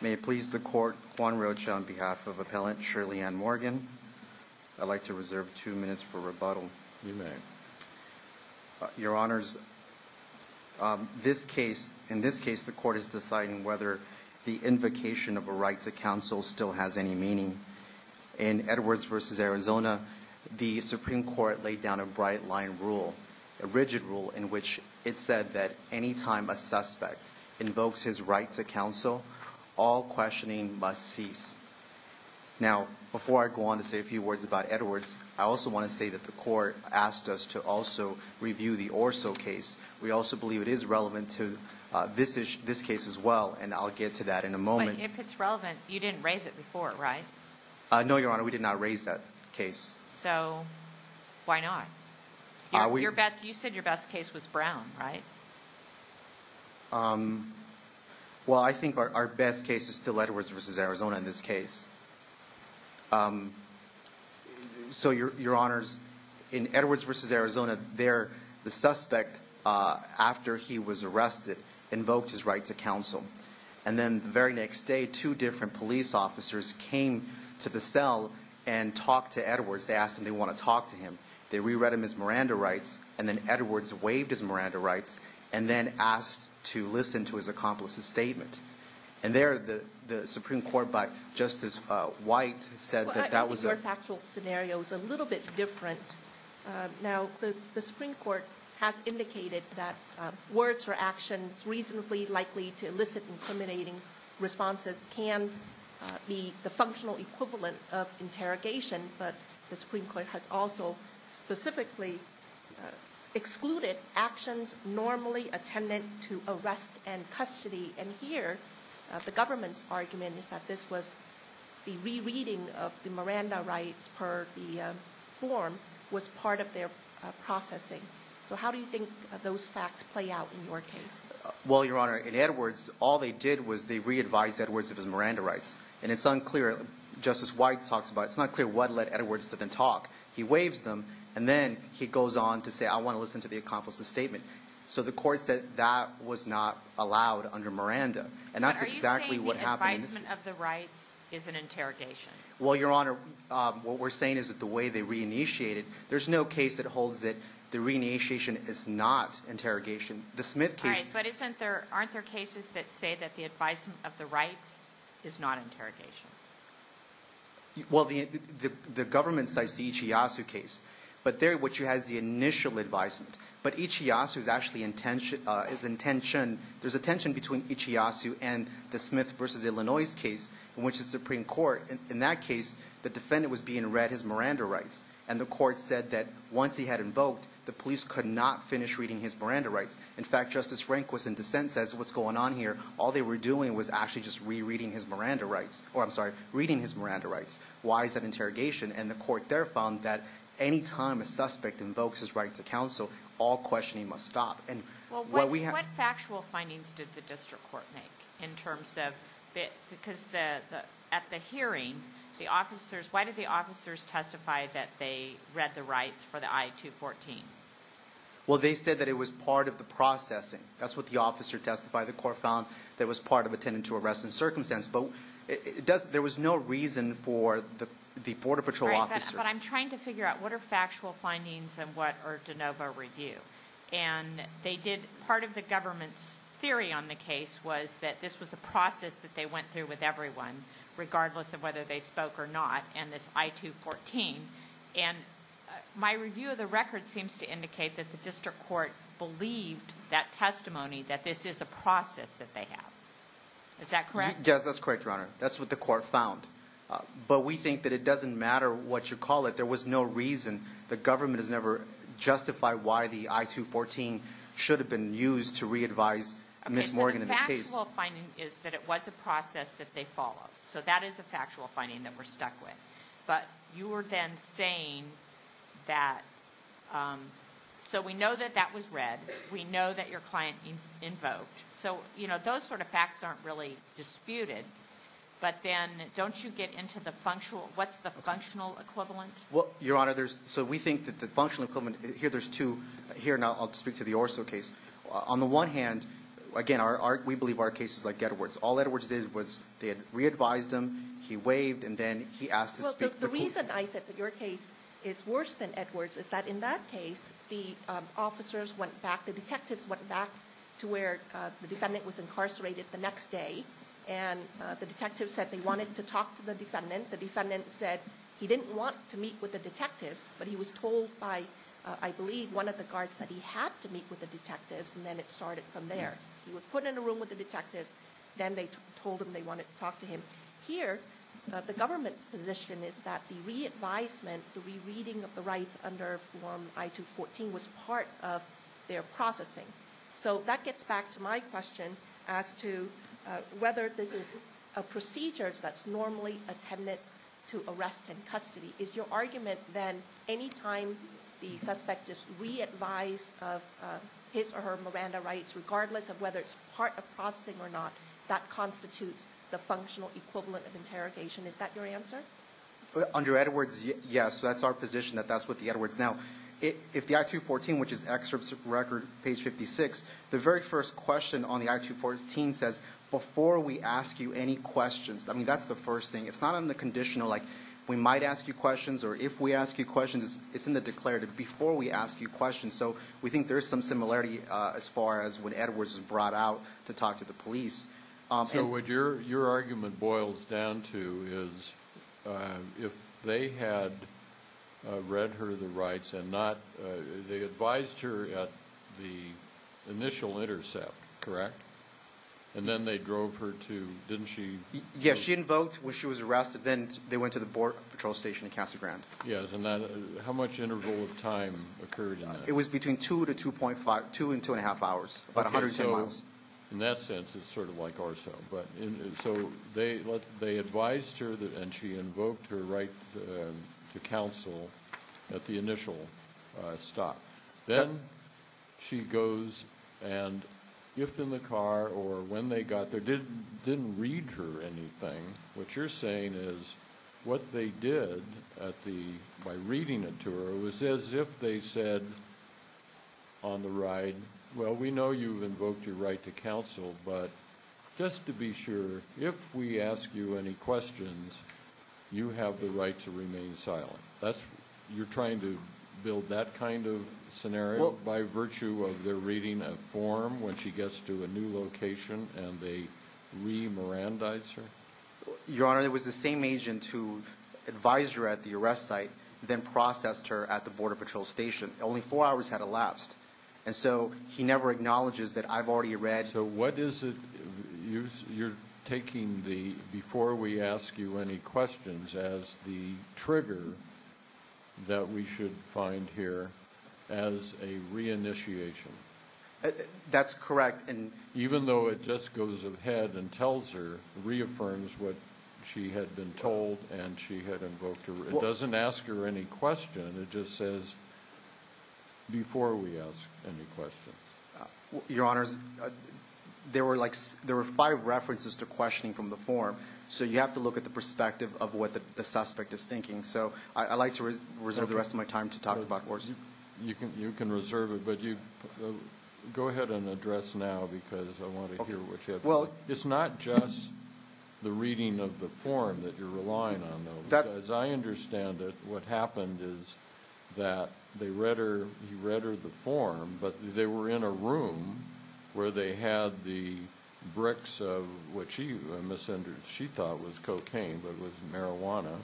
May it please the Court, Juan Rocha on behalf of Appellant Shirley Ann Morgan, I'd like to reserve two minutes for rebuttal. You may. Your Honors, in this case the Court is deciding whether the invocation of a right to counsel still has any meaning. In Edwards v. Arizona, the Supreme Court laid down a bright line rule, a rigid rule, in which it said that any time a suspect invokes his right to counsel, all questioning must cease. Now, before I go on to say a few words about Edwards, I also want to say that the Court asked us to also review the Orso case. We also believe it is relevant to this case as well, and I'll get to that in a moment. But if it's relevant, you didn't raise it before, right? No, Your Honor, we did not raise that case. So, why not? You said your best case was Brown, right? Well, I think our best case is still Edwards v. Arizona in this case. So, Your Honors, in Edwards v. Arizona, the suspect, after he was arrested, invoked his right to counsel. And then the very next day, two different police officers came to the cell and talked to Edwards. They asked him if they wanted to talk to him. They re-read him his Miranda rights, and then Edwards waived his Miranda rights, and then asked to listen to his accomplice's statement. And there, the Supreme Court, by Justice White, said that that was a- Well, I think your factual scenario is a little bit different. Now, the Supreme Court has indicated that words or actions reasonably likely to elicit incriminating responses can be the functional equivalent of interrogation. But the Supreme Court has also specifically excluded actions normally attendant to arrest and custody. And here, the government's argument is that this was the re-reading of the Miranda rights per the form was part of their processing. So, how do you think those facts play out in your case? Well, Your Honor, in Edwards, all they did was they re-advised Edwards of his Miranda rights. And it's unclear. Justice White talks about it. It's not clear what led Edwards to then talk. He waives them, and then he goes on to say, I want to listen to the accomplice's statement. So the court said that was not allowed under Miranda. And that's exactly what happened in this case. Are you saying the advisement of the rights is an interrogation? Well, Your Honor, what we're saying is that the way they re-initiated, there's no case that holds that the re-initiation is not interrogation. All right, but aren't there cases that say that the advisement of the rights is not interrogation? Well, the government cites the Ichiyasu case, which has the initial advisement. But Ichiyasu is actually intentioned. There's a tension between Ichiyasu and the Smith v. Illinois case in which the Supreme Court, in that case, the defendant was being read his Miranda rights. And the court said that once he had invoked, the police could not finish reading his Miranda rights. In fact, Justice Rehnquist in dissent says, what's going on here? All they were doing was actually just re-reading his Miranda rights. Or, I'm sorry, reading his Miranda rights. Why is that interrogation? And the court there found that any time a suspect invokes his right to counsel, all questioning must stop. Well, what factual findings did the district court make in terms of, because at the hearing, the officers, why did the officers testify that they read the rights for the I-214? Well, they said that it was part of the processing. That's what the officer testified. The court found that it was part of attending to arresting circumstance. But there was no reason for the border patrol officer. All right, but I'm trying to figure out, what are factual findings and what are de novo review? And part of the government's theory on the case was that this was a process that they went through with everyone, regardless of whether they spoke or not, and this I-214. And my review of the record seems to indicate that the district court believed that testimony, that this is a process that they have. Is that correct? Yes, that's correct, Your Honor. That's what the court found. But we think that it doesn't matter what you call it. There was no reason. The government has never justified why the I-214 should have been used to re-advise Ms. Morgan in this case. Okay, so the factual finding is that it was a process that they followed. So that is a factual finding that we're stuck with. But you were then saying that, so we know that that was read. We know that your client invoked. So, you know, those sort of facts aren't really disputed. But then don't you get into the functional, what's the functional equivalent? Well, Your Honor, so we think that the functional equivalent, here there's two, here now I'll speak to the Orso case. On the one hand, again, we believe our case is like Edwards. All Edwards did was they had re-advised him, he waved, and then he asked to speak. Well, the reason I said that your case is worse than Edwards is that in that case, the officers went back, the detectives went back to where the defendant was incarcerated the next day. And the detectives said they wanted to talk to the defendant. The defendant said he didn't want to meet with the detectives, but he was told by, I believe, one of the guards that he had to meet with the detectives, and then it started from there. He was put in a room with the detectives, then they told him they wanted to talk to him. Here, the government's position is that the re-advisement, the re-reading of the rights under Form I-214 was part of their processing. So that gets back to my question as to whether this is a procedure that's normally intended to arrest in custody. Is your argument then any time the suspect is re-advised of his or her Miranda rights, regardless of whether it's part of processing or not, that constitutes the functional equivalent of interrogation? Is that your answer? Under Edwards, yes. That's our position that that's what the Edwards. Now, if the I-214, which is excerpt record, page 56, the very first question on the I-214 says, before we ask you any questions. I mean, that's the first thing. It's not on the conditional, like we might ask you questions or if we ask you questions. It's in the declarative, before we ask you questions. So we think there's some similarity as far as when Edwards is brought out to talk to the police. So what your argument boils down to is, if they had read her the rights and not, they advised her at the initial intercept, correct? And then they drove her to, didn't she? Yes, she invoked when she was arrested. Then they went to the port patrol station in Casa Grande. Yes, and how much interval of time occurred in that? It was between two and two and a half hours, about 110 miles. In that sense, it's sort of like Arso. So they advised her and she invoked her right to counsel at the initial stop. Then she goes and if in the car or when they got there, didn't read her anything. What you're saying is, what they did by reading it to her was as if they said on the ride, well, we know you've invoked your right to counsel, but just to be sure, if we ask you any questions, you have the right to remain silent. You're trying to build that kind of scenario by virtue of their reading a form when she gets to a new location and they re-Mirandize her? Your Honor, it was the same agent who advised her at the arrest site, then processed her at the border patrol station. Only four hours had elapsed, and so he never acknowledges that I've already read. So what is it you're taking before we ask you any questions as the trigger that we should find here as a re-initiation? That's correct. Even though it just goes ahead and tells her, reaffirms what she had been told and she had invoked her. It doesn't ask her any question. It just says, before we ask any questions. Your Honor, there were five references to questioning from the form, so you have to look at the perspective of what the suspect is thinking. So I'd like to reserve the rest of my time to talk about it. You can reserve it, but go ahead and address now because I want to hear what you have to say. It's not just the reading of the form that you're relying on, though. As I understand it, what happened is that he read her the form, but they were in a room where they had the bricks of what she thought was cocaine, but was marijuana.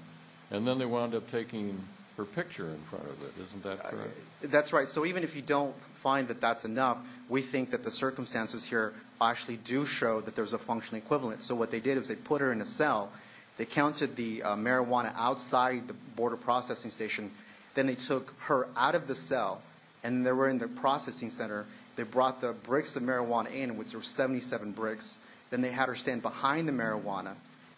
And then they wound up taking her picture in front of it. Isn't that correct? That's right. So even if you don't find that that's enough, we think that the circumstances here actually do show that there's a functional equivalent. So what they did is they put her in a cell. They counted the marijuana outside the border processing station. Then they took her out of the cell, and they were in the processing center. They brought the bricks of marijuana in, which were 77 bricks. Then they had her stand behind the marijuana.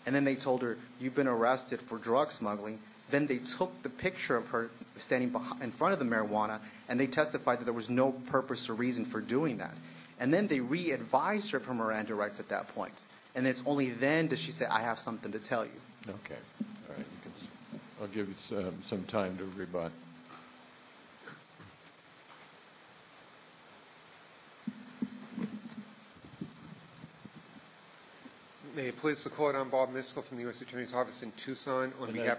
And then they told her, you've been arrested for drug smuggling. Then they took the picture of her standing in front of the marijuana, and they testified that there was no purpose or reason for doing that. And then they re-advised her for Miranda rights at that point. And it's only then does she say, I have something to tell you. Okay. I'll give you some time to rebut. Okay. May it please the Court, I'm Bob Miskell from the U.S. Attorney's Office in Tucson. Yeah,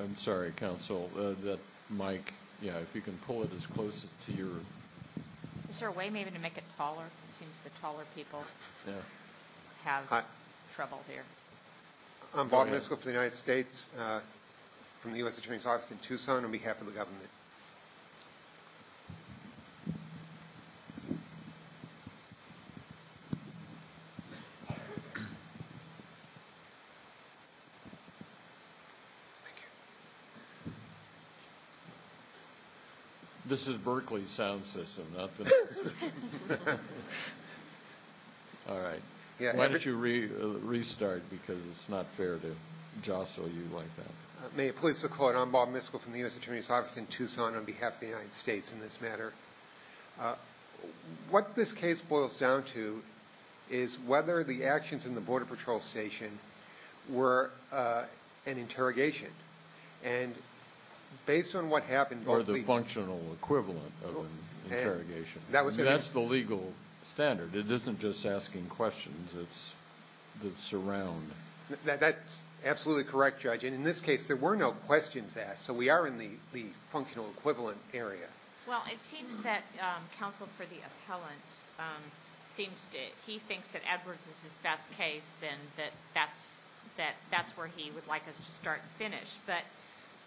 I'm sorry, Counsel, that mic. Yeah, if you can pull it as close to your room. Is there a way maybe to make it taller? It seems the taller people have trouble here. I'm Bob Miskell from the United States, from the U.S. Attorney's Office in Tucson, on behalf of the government. Thank you. This is Berkley's sound system, not the court system. All right. Why don't you restart, because it's not fair to jostle you like that. May it please the Court, I'm Bob Miskell from the U.S. Attorney's Office in Tucson, on behalf of the United States, in this matter. What this case boils down to is whether the actions in the Border Patrol Station were an interrogation. And based on what happened... Or the functional equivalent of an interrogation. That's the legal standard. It isn't just asking questions that surround. That's absolutely correct, Judge. And in this case, there were no questions asked, so we are in the functional equivalent area. Well, it seems that Counsel for the Appellant seems to... He thinks that Edwards is his best case and that that's where he would like us to start and finish. But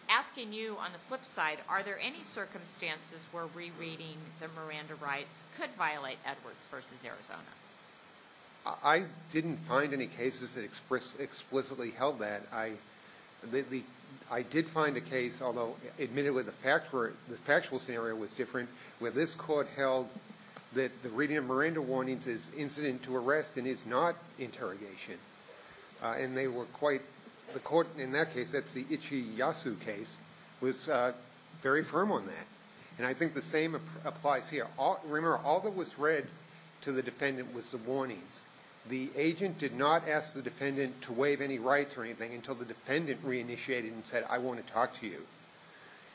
asking you on the flip side, are there any circumstances where rereading the Miranda rights could violate Edwards v. Arizona? I didn't find any cases that explicitly held that. I did find a case, although admittedly the factual scenario was different, where this court held that the reading of Miranda warnings is incident to arrest and is not interrogation. And they were quite... The court in that case, that's the Ichiyasu case, was very firm on that. And I think the same applies here. Remember, all that was read to the defendant was the warnings. The agent did not ask the defendant to waive any rights or anything until the defendant reinitiated and said, I want to talk to you.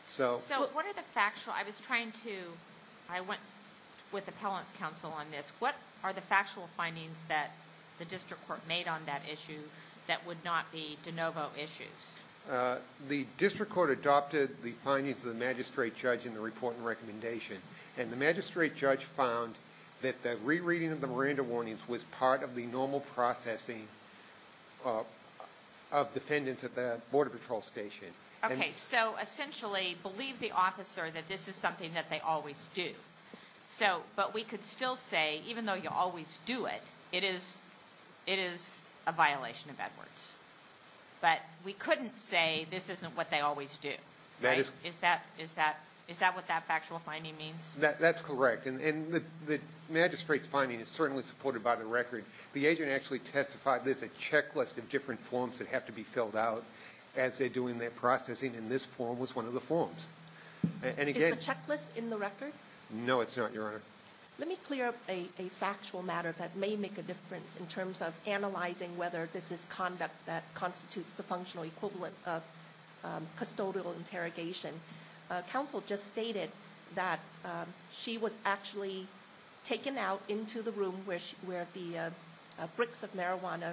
So... So what are the factual... I was trying to... I went with Appellant's counsel on this. What are the factual findings that the district court made on that issue that would not be de novo issues? The district court adopted the findings of the magistrate judge in the report and recommendation. And the magistrate judge found that the rereading of the Miranda warnings was part of the normal processing of defendants at the border patrol station. Okay, so essentially believe the officer that this is something that they always do. So, but we could still say, even though you always do it, it is a violation of Edwards. But we couldn't say this isn't what they always do. Is that what that factual finding means? That's correct. And the magistrate's finding is certainly supported by the record. The agent actually testified there's a checklist of different forms that have to be filled out as they're doing their processing. And this form was one of the forms. Is the checklist in the record? No, it's not, Your Honor. Let me clear up a factual matter that may make a difference in terms of analyzing whether this is conduct that constitutes the functional equivalent of custodial interrogation. Counsel just stated that she was actually taken out into the room where the bricks of marijuana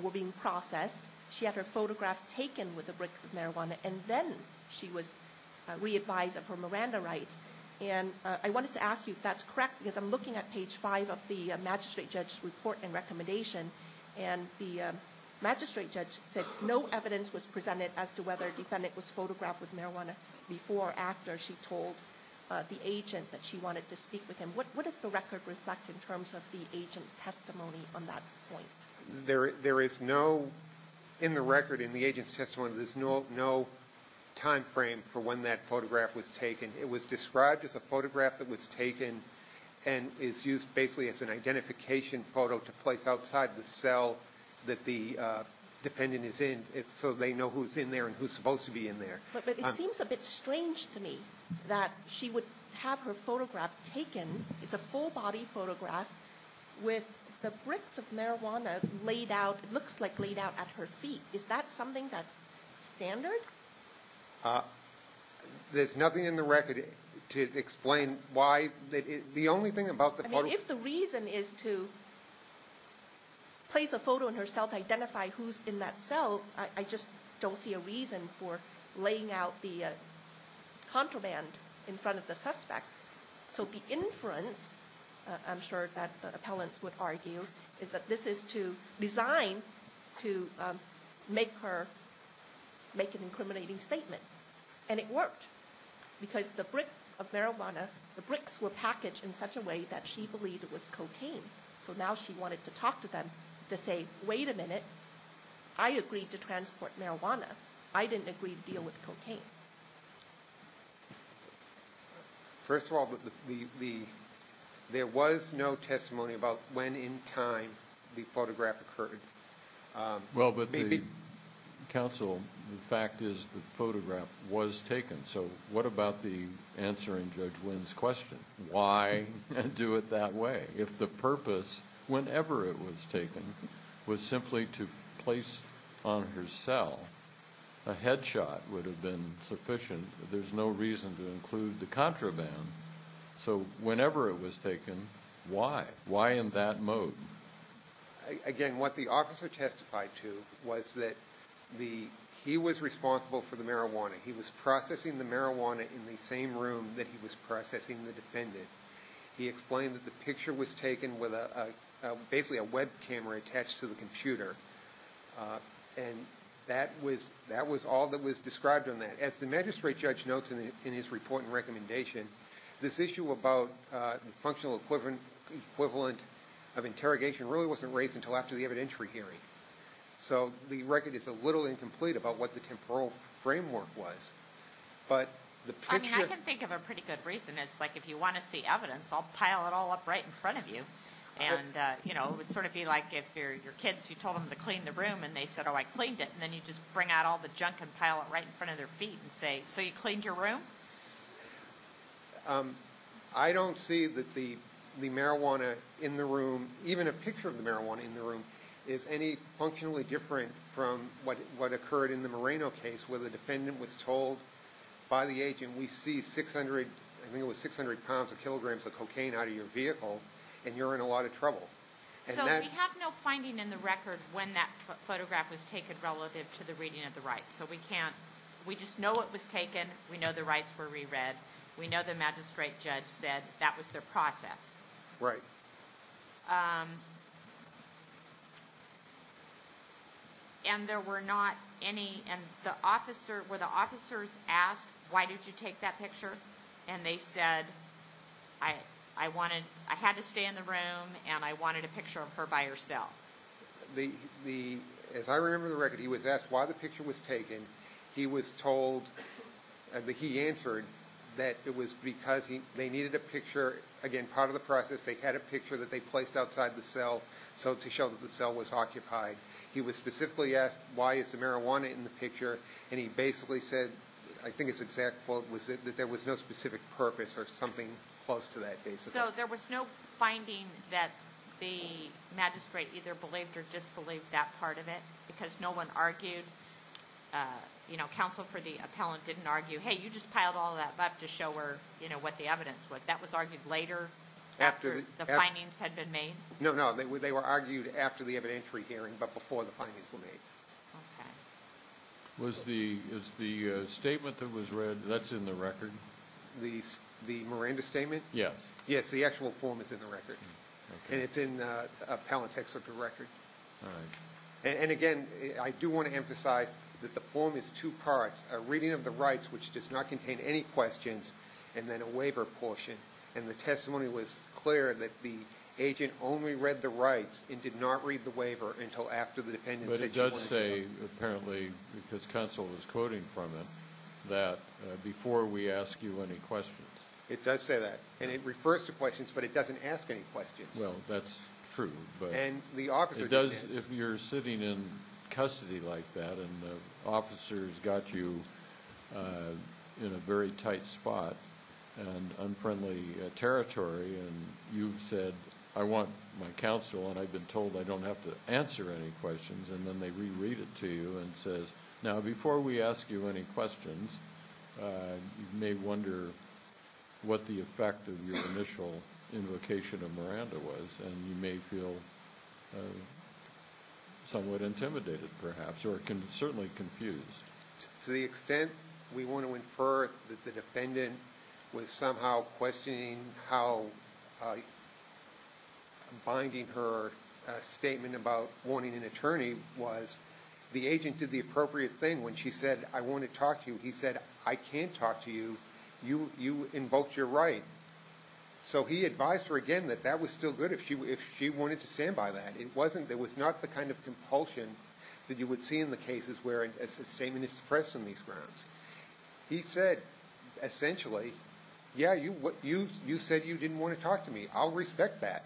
were being processed. She had her photograph taken with the bricks of marijuana. And then she was re-advised of her Miranda rights. And I wanted to ask you if that's correct, because I'm looking at page five of the magistrate judge's report and recommendation. And the magistrate judge said no evidence was presented as to whether the defendant was photographed with marijuana before or after she told the agent that she wanted to speak with him. What does the record reflect in terms of the agent's testimony on that point? There is no, in the record, in the agent's testimony, there's no time frame for when that photograph was taken. It was described as a photograph that was taken and is used basically as an identification photo to place outside the cell that the defendant is in so they know who's in there and who's supposed to be in there. But it seems a bit strange to me that she would have her photograph taken. It's a full-body photograph with the bricks of marijuana laid out, it looks like laid out at her feet. Is that something that's standard? There's nothing in the record to explain why. The only thing about the photo... I mean, if the reason is to place a photo in her cell to identify who's in that cell, I just don't see a reason for laying out the contraband in front of the suspect. So the inference, I'm sure that the appellants would argue, is that this is designed to make her make an incriminating statement. And it worked. Because the brick of marijuana, the bricks were packaged in such a way that she believed it was cocaine. So now she wanted to talk to them to say, wait a minute, I agreed to transport marijuana. I didn't agree to deal with cocaine. First of all, there was no testimony about when in time the photograph occurred. Well, but the counsel, the fact is the photograph was taken. So what about the answering Judge Wynn's question, why do it that way? If the purpose, whenever it was taken, was simply to place on her cell, a headshot would have been sufficient. There's no reason to include the contraband. So whenever it was taken, why? Why in that mode? Again, what the officer testified to was that he was responsible for the marijuana. He was processing the marijuana in the same room that he was processing the defendant. He explained that the picture was taken with basically a web camera attached to the computer. And that was all that was described on that. As the magistrate judge notes in his report and recommendation, this issue about the functional equivalent of interrogation really wasn't raised until after the evidentiary hearing. So the record is a little incomplete about what the temporal framework was. I mean, I can think of a pretty good reason. It's like if you want to see evidence, I'll pile it all up right in front of you. And it would sort of be like if your kids, you told them to clean the room, and they said, oh, I cleaned it. And then you just bring out all the junk and pile it right in front of their feet and say, so you cleaned your room? I don't see that the marijuana in the room, even a picture of the marijuana in the room, is any functionally different from what occurred in the Moreno case where the defendant was told by the agent, we see 600 pounds or kilograms of cocaine out of your vehicle, and you're in a lot of trouble. So we have no finding in the record when that photograph was taken relative to the reading of the rights. So we just know it was taken. We know the rights were reread. We know the magistrate judge said that was their process. Right. Right. And there were not any, and the officer, were the officers asked, why did you take that picture? And they said, I wanted, I had to stay in the room, and I wanted a picture of her by herself. The, as I remember the record, he was asked why the picture was taken. He was told, he answered that it was because they needed a picture, again, part of the process. They had a picture that they placed outside the cell, so to show that the cell was occupied. He was specifically asked, why is the marijuana in the picture? And he basically said, I think his exact quote was that there was no specific purpose or something close to that basis. So there was no finding that the magistrate either believed or disbelieved that part of it because no one argued, you know, counsel for the appellant didn't argue, hey, you just piled all that up to show her, you know, what the evidence was. That was argued later, after the findings had been made? No, no, they were argued after the evidentiary hearing, but before the findings were made. Okay. Was the, is the statement that was read, that's in the record? The Miranda statement? Yes. Yes, the actual form is in the record. Okay. And it's in appellant's excerpt of record. All right. And again, I do want to emphasize that the form is two parts, a reading of the rights, which does not contain any questions, and then a waiver portion. And the testimony was clear that the agent only read the rights and did not read the waiver until after the dependency. But it does say, apparently, because counsel was quoting from it, that before we ask you any questions. It does say that. And it refers to questions, but it doesn't ask any questions. Well, that's true. And the officer doesn't. If you're sitting in custody like that and the officer's got you in a very tight spot and unfriendly territory, and you've said, I want my counsel, and I've been told I don't have to answer any questions, and then they reread it to you and says, now, before we ask you any questions, you may wonder what the effect of your initial invocation of Miranda was, and you may feel somewhat intimidated, perhaps, or certainly confused. To the extent we want to infer that the defendant was somehow questioning how binding her statement about wanting an attorney was, the agent did the appropriate thing. When she said, I want to talk to you, he said, I can't talk to you. You invoked your right. So he advised her again that that was still good if she wanted to stand by that. It was not the kind of compulsion that you would see in the cases where a statement is suppressed on these grounds. He said, essentially, yeah, you said you didn't want to talk to me. I'll respect that.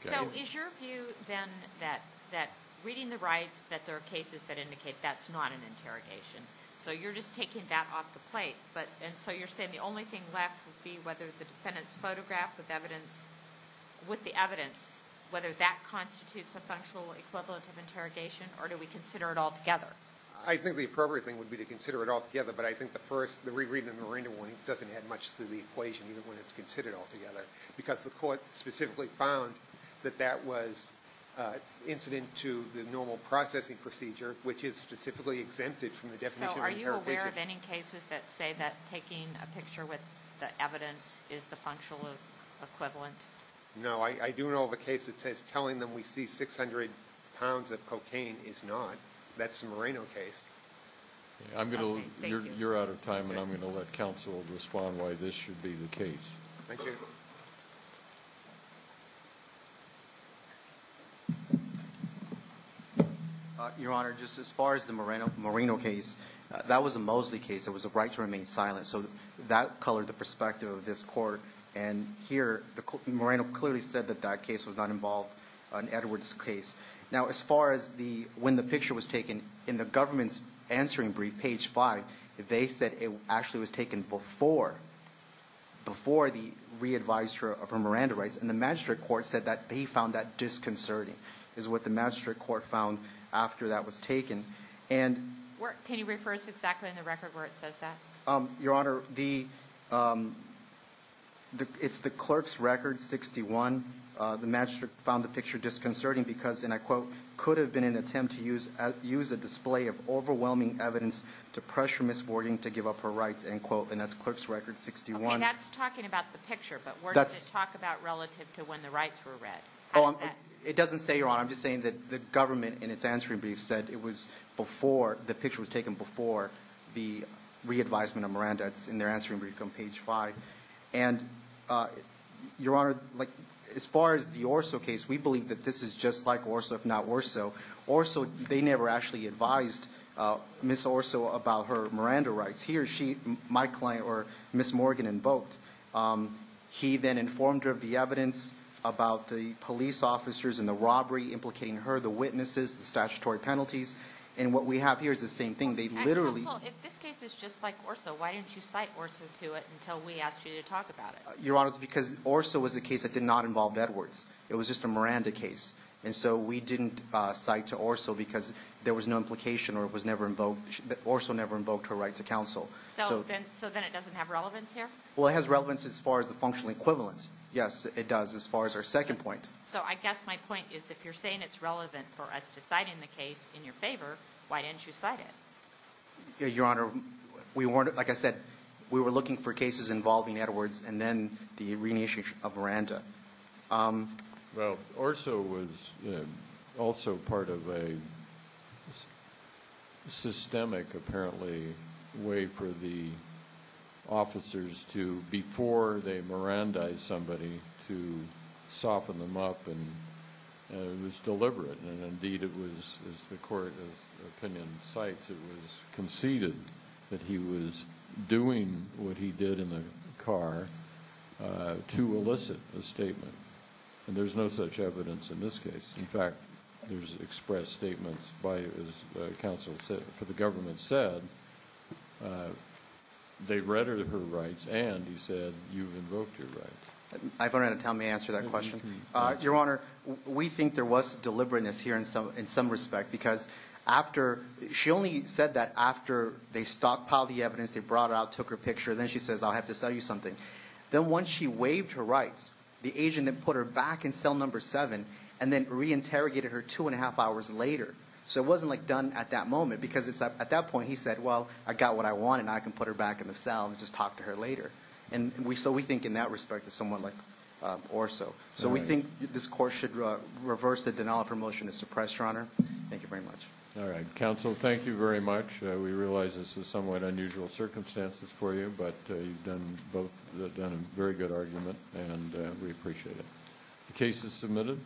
So is your view, then, that reading the rights, that there are cases that indicate that's not an interrogation, so you're just taking that off the plate? And so you're saying the only thing left would be whether the defendant's photograph with the evidence, whether that constitutes a functional equivalent of interrogation, or do we consider it altogether? I think the appropriate thing would be to consider it altogether, but I think the first, the rereading of the Miranda warning doesn't add much to the equation, when it's considered altogether, because the court specifically found that that was incident to the normal processing procedure, which is specifically exempted from the definition of interrogation. So are you aware of any cases that say that taking a picture with the evidence is the functional equivalent? No. I do know of a case that says telling them we see 600 pounds of cocaine is not. That's the Moreno case. Okay, thank you. You're out of time, and I'm going to let counsel respond why this should be the case. Thank you. Your Honor, just as far as the Moreno case, that was a Mosley case. It was a right to remain silent, so that colored the perspective of this court, and here Moreno clearly said that that case was not involved on Edwards' case. Now, as far as when the picture was taken, in the government's answering brief, page 5, they said it actually was taken before the re-advisory for Miranda rights, and the magistrate court said that they found that disconcerting is what the magistrate court found after that was taken. Can you refer us exactly in the record where it says that? Your Honor, it's the clerk's record, 61. The magistrate found the picture disconcerting because, and I quote, could have been an attempt to use a display of overwhelming evidence to pressure Ms. Warding to give up her rights, end quote, and that's clerk's record 61. Okay, that's talking about the picture, but where does it talk about relative to when the rights were read? It doesn't say, Your Honor. I'm just saying that the government in its answering brief said it was before, the picture was taken before the re-advisement of Miranda. It's in their answering brief on page 5. And, Your Honor, as far as the Orso case, we believe that this is just like Orso, if not worse so. Orso, they never actually advised Ms. Orso about her Miranda rights. He or she, my client or Ms. Morgan invoked, he then informed her of the evidence about the police officers and the robbery implicating her, the witnesses, the statutory penalties, and what we have here is the same thing. If this case is just like Orso, why didn't you cite Orso to it until we asked you to talk about it? Your Honor, it's because Orso was a case that did not involve Edwards. It was just a Miranda case, and so we didn't cite to Orso because there was no implication or Orso never invoked her right to counsel. So then it doesn't have relevance here? Well, it has relevance as far as the functional equivalence. Yes, it does as far as our second point. So I guess my point is if you're saying it's relevant for us to cite in the case in your favor, why didn't you cite it? Your Honor, like I said, we were looking for cases involving Edwards and then the renation of Miranda. Well, Orso was also part of a systemic, apparently, way for the officers to, before they Mirandized somebody, to soften them up, and it was deliberate. And, indeed, it was, as the Court of Opinion cites, it was conceded that he was doing what he did in the car to elicit a statement. And there's no such evidence in this case. In fact, there's expressed statements by, as counsel said, for the government said, they read her rights and he said you invoked her rights. I don't know how to tell him to answer that question. Your Honor, we think there was deliberateness here in some respect because she only said that after they stockpiled the evidence, they brought it out, took her picture, and then she says I'll have to sell you something. Then once she waived her rights, the agent then put her back in cell number seven and then reinterrogated her two and a half hours later. So it wasn't, like, done at that moment because at that point he said, well, I got what I wanted and I can put her back in the cell and just talk to her later. So we think in that respect it's somewhat like Orso. So we think this court should reverse the denial of her motion to suppress, Your Honor. Thank you very much. All right. Counsel, thank you very much. We realize this is somewhat unusual circumstances for you, but you've done a very good argument and we appreciate it. The case is submitted.